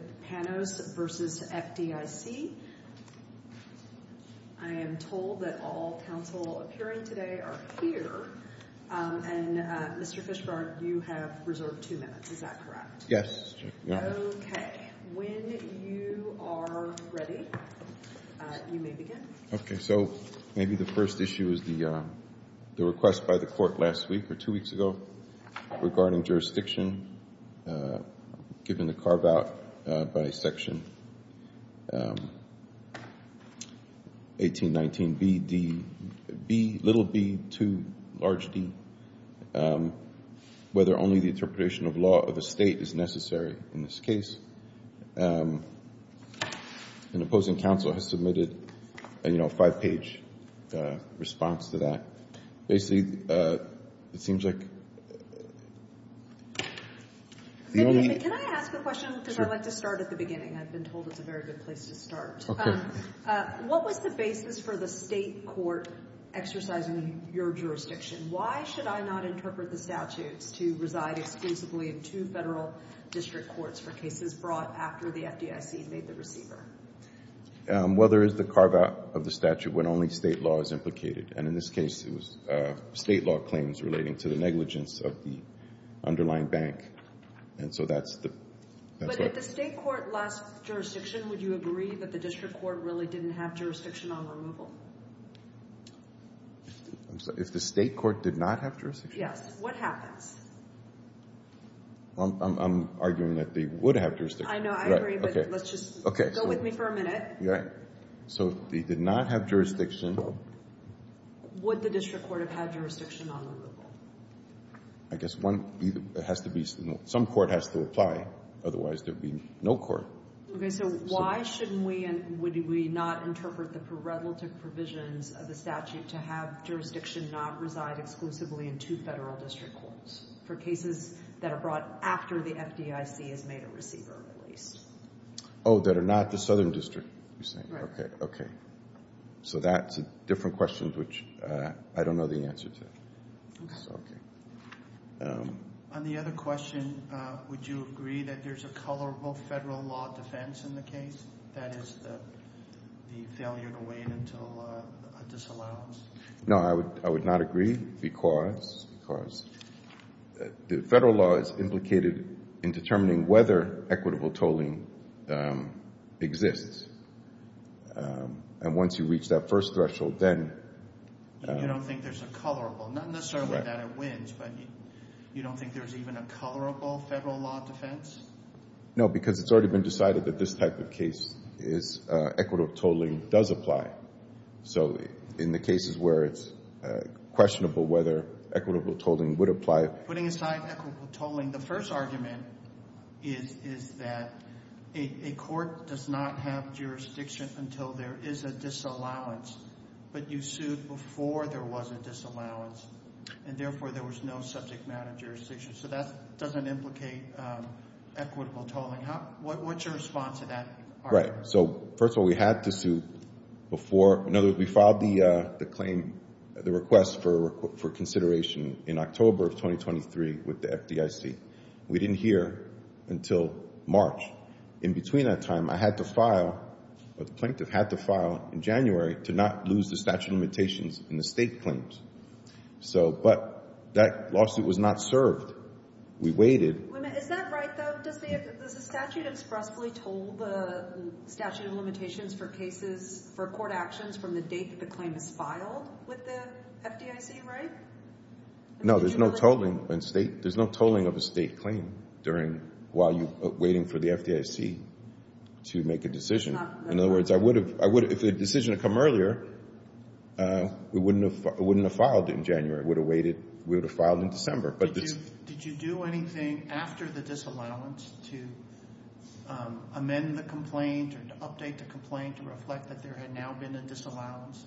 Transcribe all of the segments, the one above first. with Panos v. FDIC. I am told that all counsel appearing today are here, and Mr. Fishbart, you have reserved two minutes, is that correct? Yes. Okay, when you are ready, you may begin. Okay, so maybe the first issue is the request by the court last week or two weeks ago regarding jurisdiction, given the carve-out by Section 1819bd, b, little b, 2, large d, whether only the interpretation of law of the state is necessary in this case. An opposing counsel has submitted a five-page response to that. Basically, it seems like... Can I ask a question, because I'd like to start at the beginning? I've been told it's a very good place to start. Okay. What was the basis for the state court exercising your jurisdiction? Why should I not interpret the statutes to reside exclusively in two federal district courts for cases brought after the FDIC made the receiver? Well, there is the carve-out of the statute when only state law is implicated, and in this case, it was state law claims relating to the negligence of the underlying bank, and so that's the... But if the state court lost jurisdiction, would you agree that the district court really didn't have jurisdiction on removal? I'm sorry, if the state court did not have jurisdiction? Yes. What happens? I'm arguing that they would have jurisdiction. I know. I agree, but let's just go with me for a minute. Yeah. So if they did not have jurisdiction... Would the district court have had jurisdiction on removal? I guess one has to be... Some court has to apply. Otherwise, there would be no court. Okay. So why should we not interpret the pre-relative provisions of the statute to have jurisdiction not reside exclusively in two federal district courts for cases that are brought after the FDIC has made a receiver, at least? Oh, that are not the southern district, you're saying? Right. Okay. Okay. So that's a different question, which I don't know the answer to. Okay. On the other question, would you agree that there's a colorable federal law defense in the case? That is the failure to wait until a disallowance. No, I would not agree because the federal law is implicated in determining whether equitable tolling exists. And once you reach that first threshold, then... You don't think there's a colorable? Not necessarily that it wins, but you don't think there's even a colorable federal law defense? No, because it's already been decided that this type of case is equitable tolling does apply. So in the cases where it's questionable whether equitable tolling would apply... Putting aside equitable tolling, the first argument is that a court does not have jurisdiction until there is a disallowance, but you sued before there was a disallowance, and therefore there was no subject matter jurisdiction. So that doesn't implicate equitable tolling. What's your response to that argument? Right. So first of all, we had to sue before... In other words, we filed the claim, the request for consideration in October of 2023 with the FDIC. We didn't hear until March. In between that time, I had to file, the plaintiff had to file in January to not lose the statute of limitations in the state claims. So, but that lawsuit was not served. We waited. Is that right, though? Does the statute expressly toll the statute of limitations for cases, for court actions from the date that the claim is filed with the FDIC, right? No, there's no tolling of a state claim while you're waiting for the FDIC to make a decision. In other words, if a decision had come earlier, we wouldn't have filed it in January. We would have filed in December. Did you do anything after the disallowance to amend the complaint or to update the complaint to reflect that there had now been a disallowance?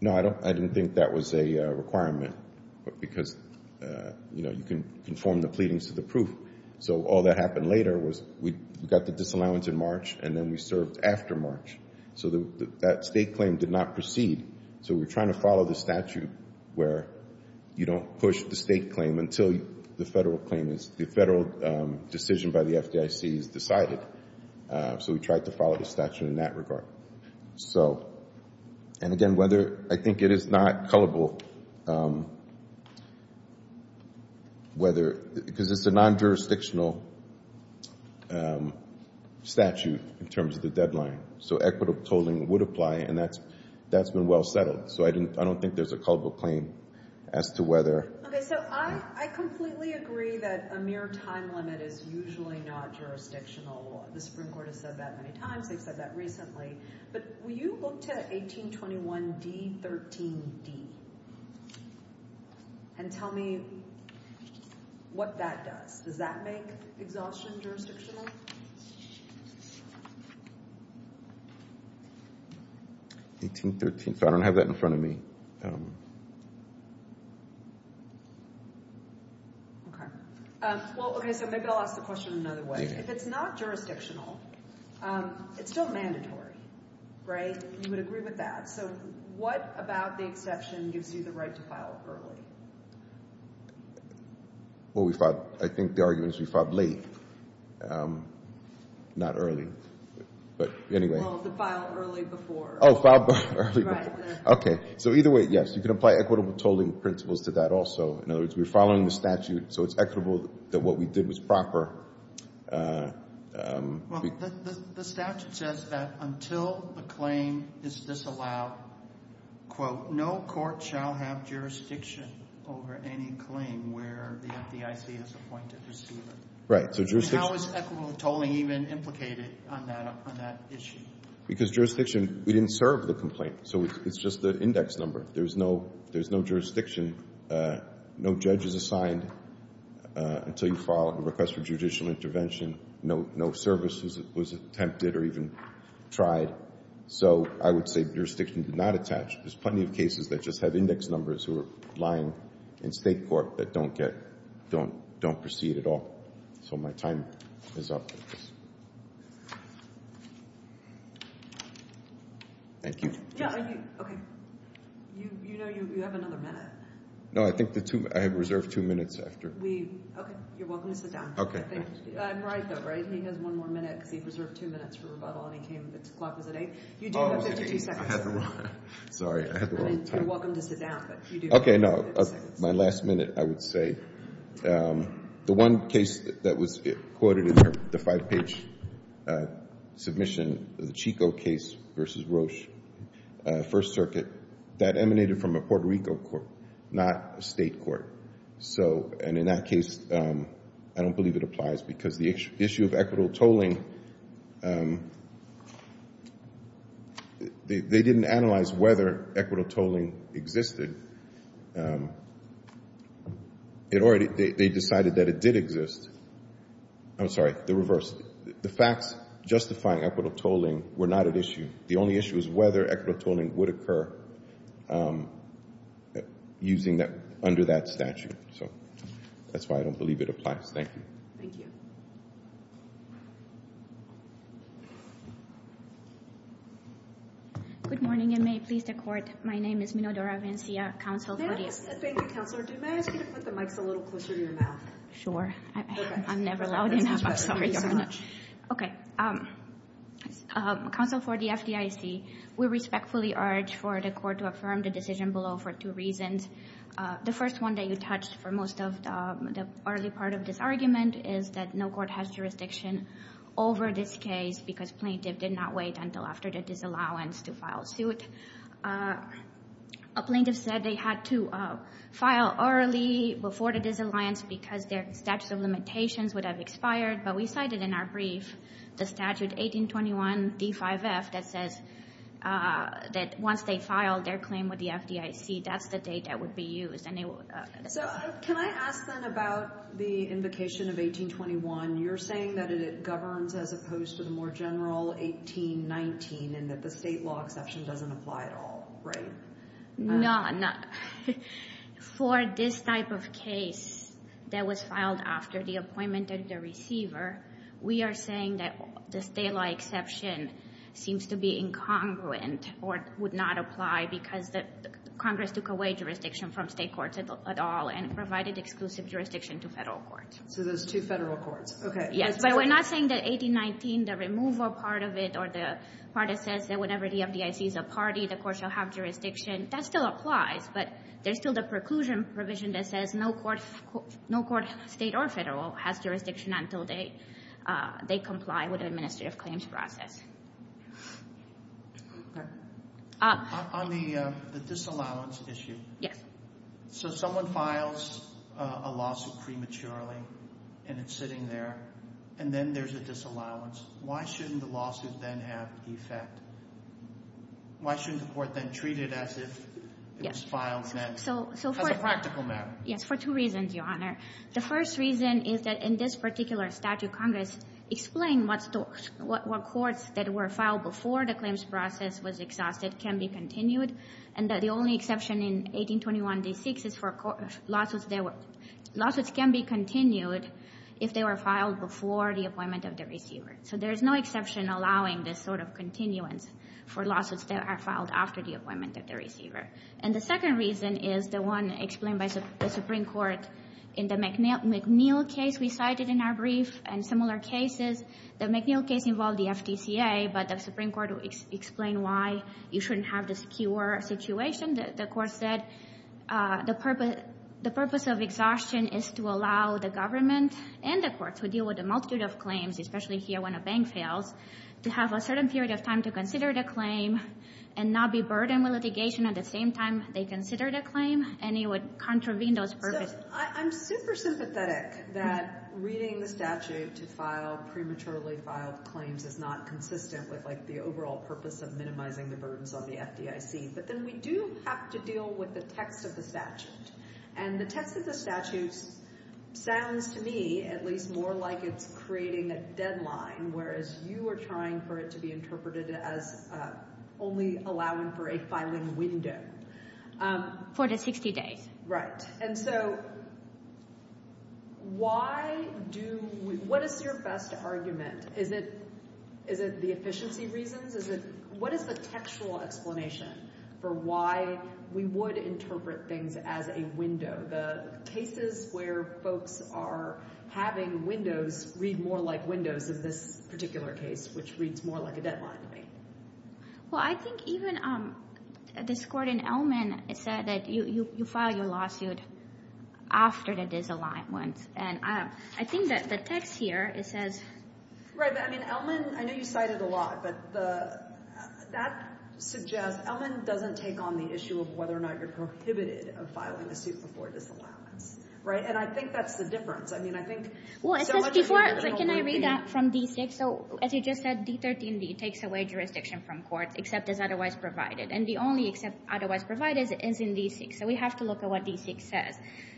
No, I didn't think that was a requirement because, you know, you can conform the pleadings to the proof. So all that happened later was we got the disallowance in March, and then we served after March. So that state claim did not proceed. So we're trying to follow the statute where you don't push the state claim until the federal claim is, the federal decision by the FDIC is decided. So we tried to follow the statute in that regard. So, and again, whether, I think it is not culpable, whether, because it's a non-jurisdictional statute in terms of the deadline. So equitable tolling would apply, and that's, that's been well settled. So I didn't, I don't think there's a culpable claim as to whether. Okay, so I completely agree that a mere time limit is usually not jurisdictional law. The Supreme Court has said that many times. They've said that recently. But will you look to 1821d-13d and tell me what that does? Does that make exhaustion jurisdictional? 1813, so I don't have that in front of me. Okay, well, okay, so maybe I'll ask the question another way. If it's not jurisdictional, it's still mandatory, right? You would agree with that. So what about the exception gives you the right to file early? Well, we filed, I think the argument is we filed late, not early. But anyway. Well, the file early before. Oh, file early before. Okay, so either way, yes, you can apply equitable tolling principles to that also. In other words, we're following the statute, so it's equitable that what we did was proper. Well, the statute says that until the claim is disallowed, quote, no court shall have jurisdiction over any claim where the FDIC is appointed to seal it. Right, so jurisdiction. How is equitable tolling even implicated on that issue? Because jurisdiction, we didn't serve the complaint, so it's just the index number. There's no jurisdiction, no judge is assigned until you file a request for judicial intervention. No service was attempted or even tried. So I would say jurisdiction did not attach. There's plenty of cases that just have index numbers who are lying in state court that don't proceed at all. So my time is up. Thank you. Yeah, okay. You know you have another minute. No, I think I have reserved two minutes after. Okay, you're welcome to sit down. I'm right though, right? He has one more minute because he reserved two minutes for rebuttal and his clock was at eight. You do have 52 seconds. Sorry, I had the wrong time. You're welcome to sit down, but you do have 52 seconds. Okay, my last minute, I would say. The one case that was quoted in the five-page submission, the Chico case versus Roche, First Circuit, that emanated from a Puerto Rico court, not a state court. And in that case, I don't believe it applies because the issue of equitable tolling existed. They decided that it did exist. I'm sorry, the reverse. The facts justifying equitable tolling were not at issue. The only issue is whether equitable tolling would occur under that statute. So that's why I don't believe it applies. Thank you. Thank you. Good morning and may it please the court. My name is Minodora Vencia, counsel for the FDIC. Thank you, counselor. Do you mind if I ask you to put the mics a little closer to your mouth? Sure. I'm never loud enough. I'm sorry. Okay. Counsel for the FDIC, we respectfully urge for the court to affirm the decision below for two reasons. The first one that you touched for most of the early part of this argument is that no court has jurisdiction over this case because plaintiff did not wait until after the disallowance to file suit. A plaintiff said they had to file early before the disalliance because their statute of limitations would have expired, but we cited in our brief the statute 1821 D5F that says that once they file their claim with the FDIC, that's the date that would be used. So can I ask then about the invocation of 1821? You're saying that it governs as opposed to the more general 1819 and that the state law exception doesn't apply at all, right? No. For this type of case that was filed after the appointment of the receiver, we are saying that the state law exception seems to be incongruent or would not apply because Congress took away jurisdiction from state courts at all and provided exclusive jurisdiction to federal courts. So those two federal courts. Okay. Yes, but we're not saying that 1819, the removal part of it or the part that says that whenever the FDIC is a party, the court shall have jurisdiction. That still applies, but there's still the preclusion provision that says no court, state or federal, has jurisdiction until they comply with the disallowance issue. Yes. So someone files a lawsuit prematurely and it's sitting there and then there's a disallowance. Why shouldn't the lawsuit then have the effect? Why shouldn't the court then treat it as if it was filed as a practical matter? Yes, for two reasons, Your Honor. The first reason is that in this particular statute, Congress explained what courts that were filed before the claims process was exhausted can be continued and that the only exception in 1821, Day 6, is for lawsuits that can be continued if they were filed before the appointment of the receiver. So there's no exception allowing this sort of continuance for lawsuits that are filed after the appointment of the receiver. And the second reason is the one explained by the Supreme Court in the McNeill case we cited in our brief and similar cases. The McNeill case involved the FTCA, but the Supreme Court explained why you shouldn't have this skewer situation. The court said the purpose of exhaustion is to allow the government and the courts who deal with a multitude of claims, especially here when a bank fails, to have a certain period of time to consider the claim and not be burdened with litigation at the same time they consider the claim and it would contravene those purposes. I'm super sympathetic that reading the statute to file prematurely filed claims is not consistent with like the overall purpose of minimizing the burdens on the FDIC, but then we do have to deal with the text of the statute. And the text of the statute sounds to me at least more like it's creating a deadline, whereas you are trying for it to be interpreted as only allowing for a filing window. Um, for the 60 days. Right. And so why do we, what is your best argument? Is it, is it the efficiency reasons? Is it, what is the textual explanation for why we would interpret things as a window? The cases where folks are having windows read more like windows in this particular case, which reads more like a deadline to me. Well, I think even, um, this court in Elman, it said that you, you, you file your lawsuit after the disalignment. And, um, I think that the text here, it says, right. I mean, Elman, I know you cited a lot, but the, that suggests Elman doesn't take on the issue of whether or not you're prohibited of filing a suit before disallowance. Right. And I think that's the difference. I mean, I think, well, it says before, can I read that from D6? So as you just said, D13D takes away jurisdiction from court except as otherwise provided. And the only except otherwise provided is in D6. So we have to look at what D6 says.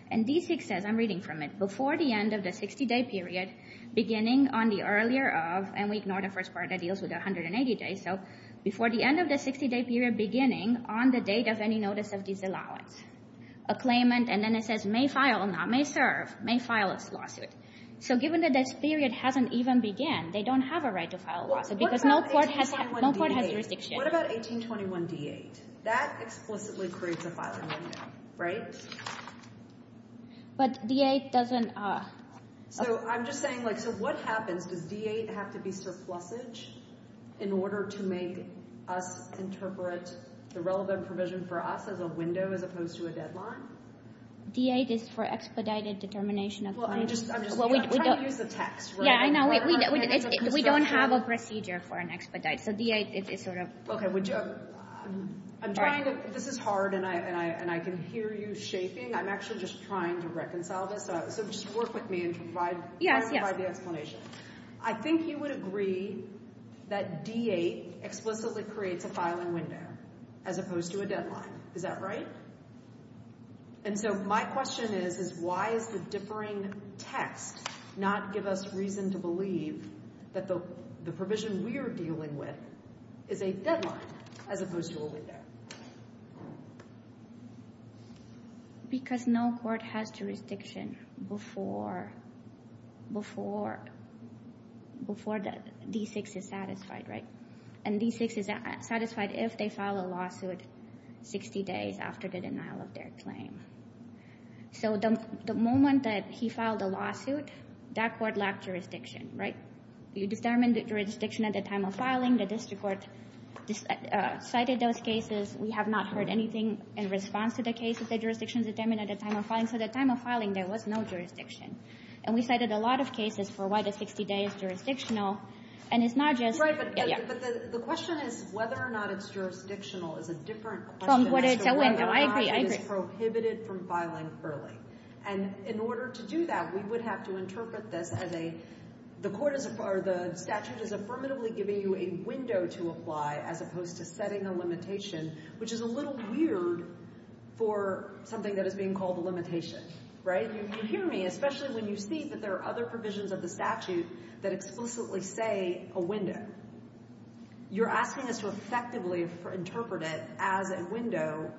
And D6 says, I'm reading from it, before the end of the 60 day period, beginning on the earlier of, and we ignore the first part that deals with 180 days. So before the end of the 60 day period, beginning on the date of any notice of disallowance, a claimant, and then it says may file, not may serve, may file a lawsuit. So given that this period hasn't even began, they don't have a right to file a lawsuit because no court has, no court has jurisdiction. What about 1821D8? That explicitly creates a filing window, right? But D8 doesn't, uh. So I'm just saying, like, so what happens? Does D8 have to be surplusage in order to make us interpret the relevant provision for us as a window as opposed to a deadline? D8 is for expedited determination of claims. Well, I'm just, I'm just trying to use the text, right? Yeah, I know. We don't have a procedure for an expedite. So D8 is sort of. Okay, would you, I'm trying to, this is hard, and I, and I, and I can hear you shaping. I'm actually just trying to reconcile this. So just work with me and provide the explanation. I think you would agree that D8 explicitly creates a filing window as opposed to a deadline. Is that right? And so my question is, is why is the differing text not give us reason to believe that the provision we are dealing with is a deadline as opposed to a window? Because no court has jurisdiction before, before, before that D6 is satisfied, right? And D6 is satisfied if they file a lawsuit 60 days after the denial of their claim. So the moment that he filed a lawsuit, that court lacked jurisdiction, right? You determined jurisdiction at the time of filing. The district court decided those cases. We have not heard anything in response to the case that the jurisdiction is determined at the time of filing. So the time of filing, there was no jurisdiction. And we cited a lot of cases for why the 60 days jurisdictional, and it's not just. Right, but the question is whether or not it's jurisdictional is a different question as to whether or not it is prohibited from filing early. And in order to do that, we would have to interpret this as a, the court is, or the statute is affirmatively giving you a window to apply as opposed to setting a limitation, which is a little weird for something that is being called a limitation, right? You hear me, especially when you see that there are other provisions of the statute that explicitly say a window. You're asking us to effectively interpret it as a window,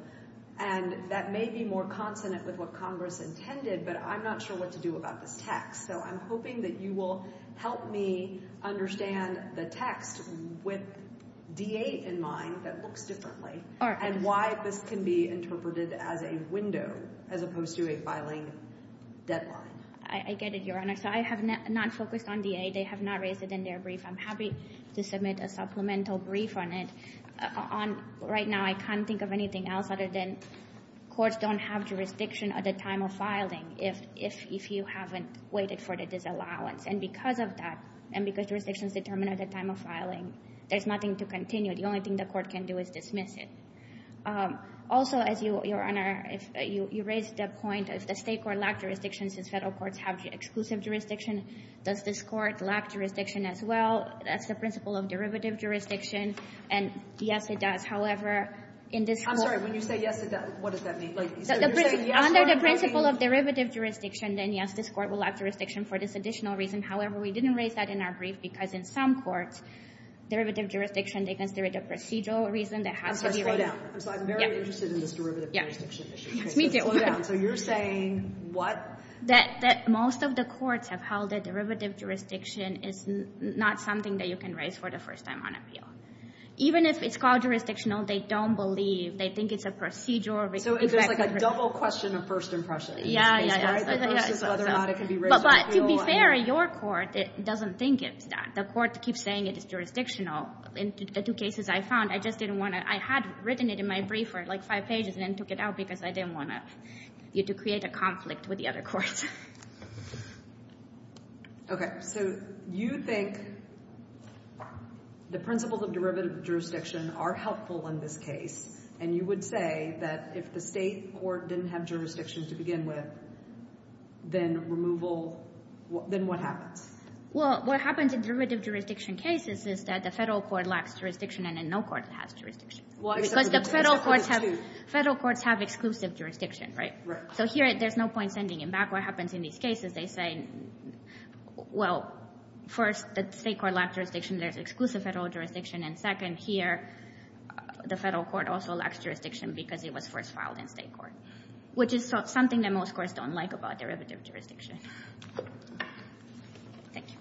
and that may be more consonant with what Congress intended, but I'm not sure what to do about this text. So I'm hoping that you will help me understand the text with D.A. in mind that looks differently, and why this can be interpreted as a window as opposed to a filing deadline. I get it, Your Honor. So I have not focused on D.A. They have not raised it in their brief. I'm to submit a supplemental brief on it. On, right now, I can't think of anything else other than courts don't have jurisdiction at the time of filing if you haven't waited for the disallowance. And because of that, and because jurisdiction is determined at the time of filing, there's nothing to continue. The only thing the court can do is dismiss it. Also, as you, Your Honor, you raised the point, if the State court lacked jurisdiction, since federal courts have exclusive jurisdiction, does this court lack jurisdiction as well? That's the principle of derivative jurisdiction. And, yes, it does. However, in this court— I'm sorry. When you say, yes, it does, what does that mean? Under the principle of derivative jurisdiction, then, yes, this court will lack jurisdiction for this additional reason. However, we didn't raise that in our brief because, in some courts, derivative jurisdiction, they consider it a procedural reason that has to be— I'm sorry. Slow down. I'm sorry. I'm very interested in this derivative jurisdiction issue. Yes, me too. So you're saying what? That most of the courts have held that derivative jurisdiction is not something that you can raise for the first time on appeal. Even if it's called jurisdictional, they don't believe. They think it's a procedural— So it's like a double question of first impression. Yeah, yeah, yeah. It's whether or not it can be raised on appeal. But to be fair, your court doesn't think it's that. The court keeps saying it is jurisdictional. In the two cases I found, I just didn't want to— I had written it in my brief for, like, five pages and then took it out because I didn't want you to create a conflict with the other courts. Okay. So you think the principles of derivative jurisdiction are helpful in this case, and you would say that if the state court didn't have jurisdiction to begin with, then removal—then what happens? Well, what happens in derivative jurisdiction cases is that the federal court lacks jurisdiction and then no court has jurisdiction. Well, except for the two. Federal courts have exclusive jurisdiction, right? Right. So here, there's no point sending him back. What happens in these cases, they say, well, first, the state court lacks jurisdiction. There's exclusive federal jurisdiction. And second, here, the federal court also lacks jurisdiction because it was first filed in state court, which is something that most courts don't like about derivative jurisdiction. Thank you.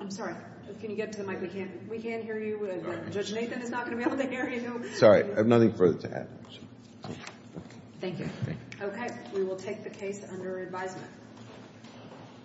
I'm sorry. Can you get to the mic? We can't hear you. Judge Nathan is not going to be able to hear you. Sorry. I have nothing further to add. Thank you. Okay. We will take the case under advisement.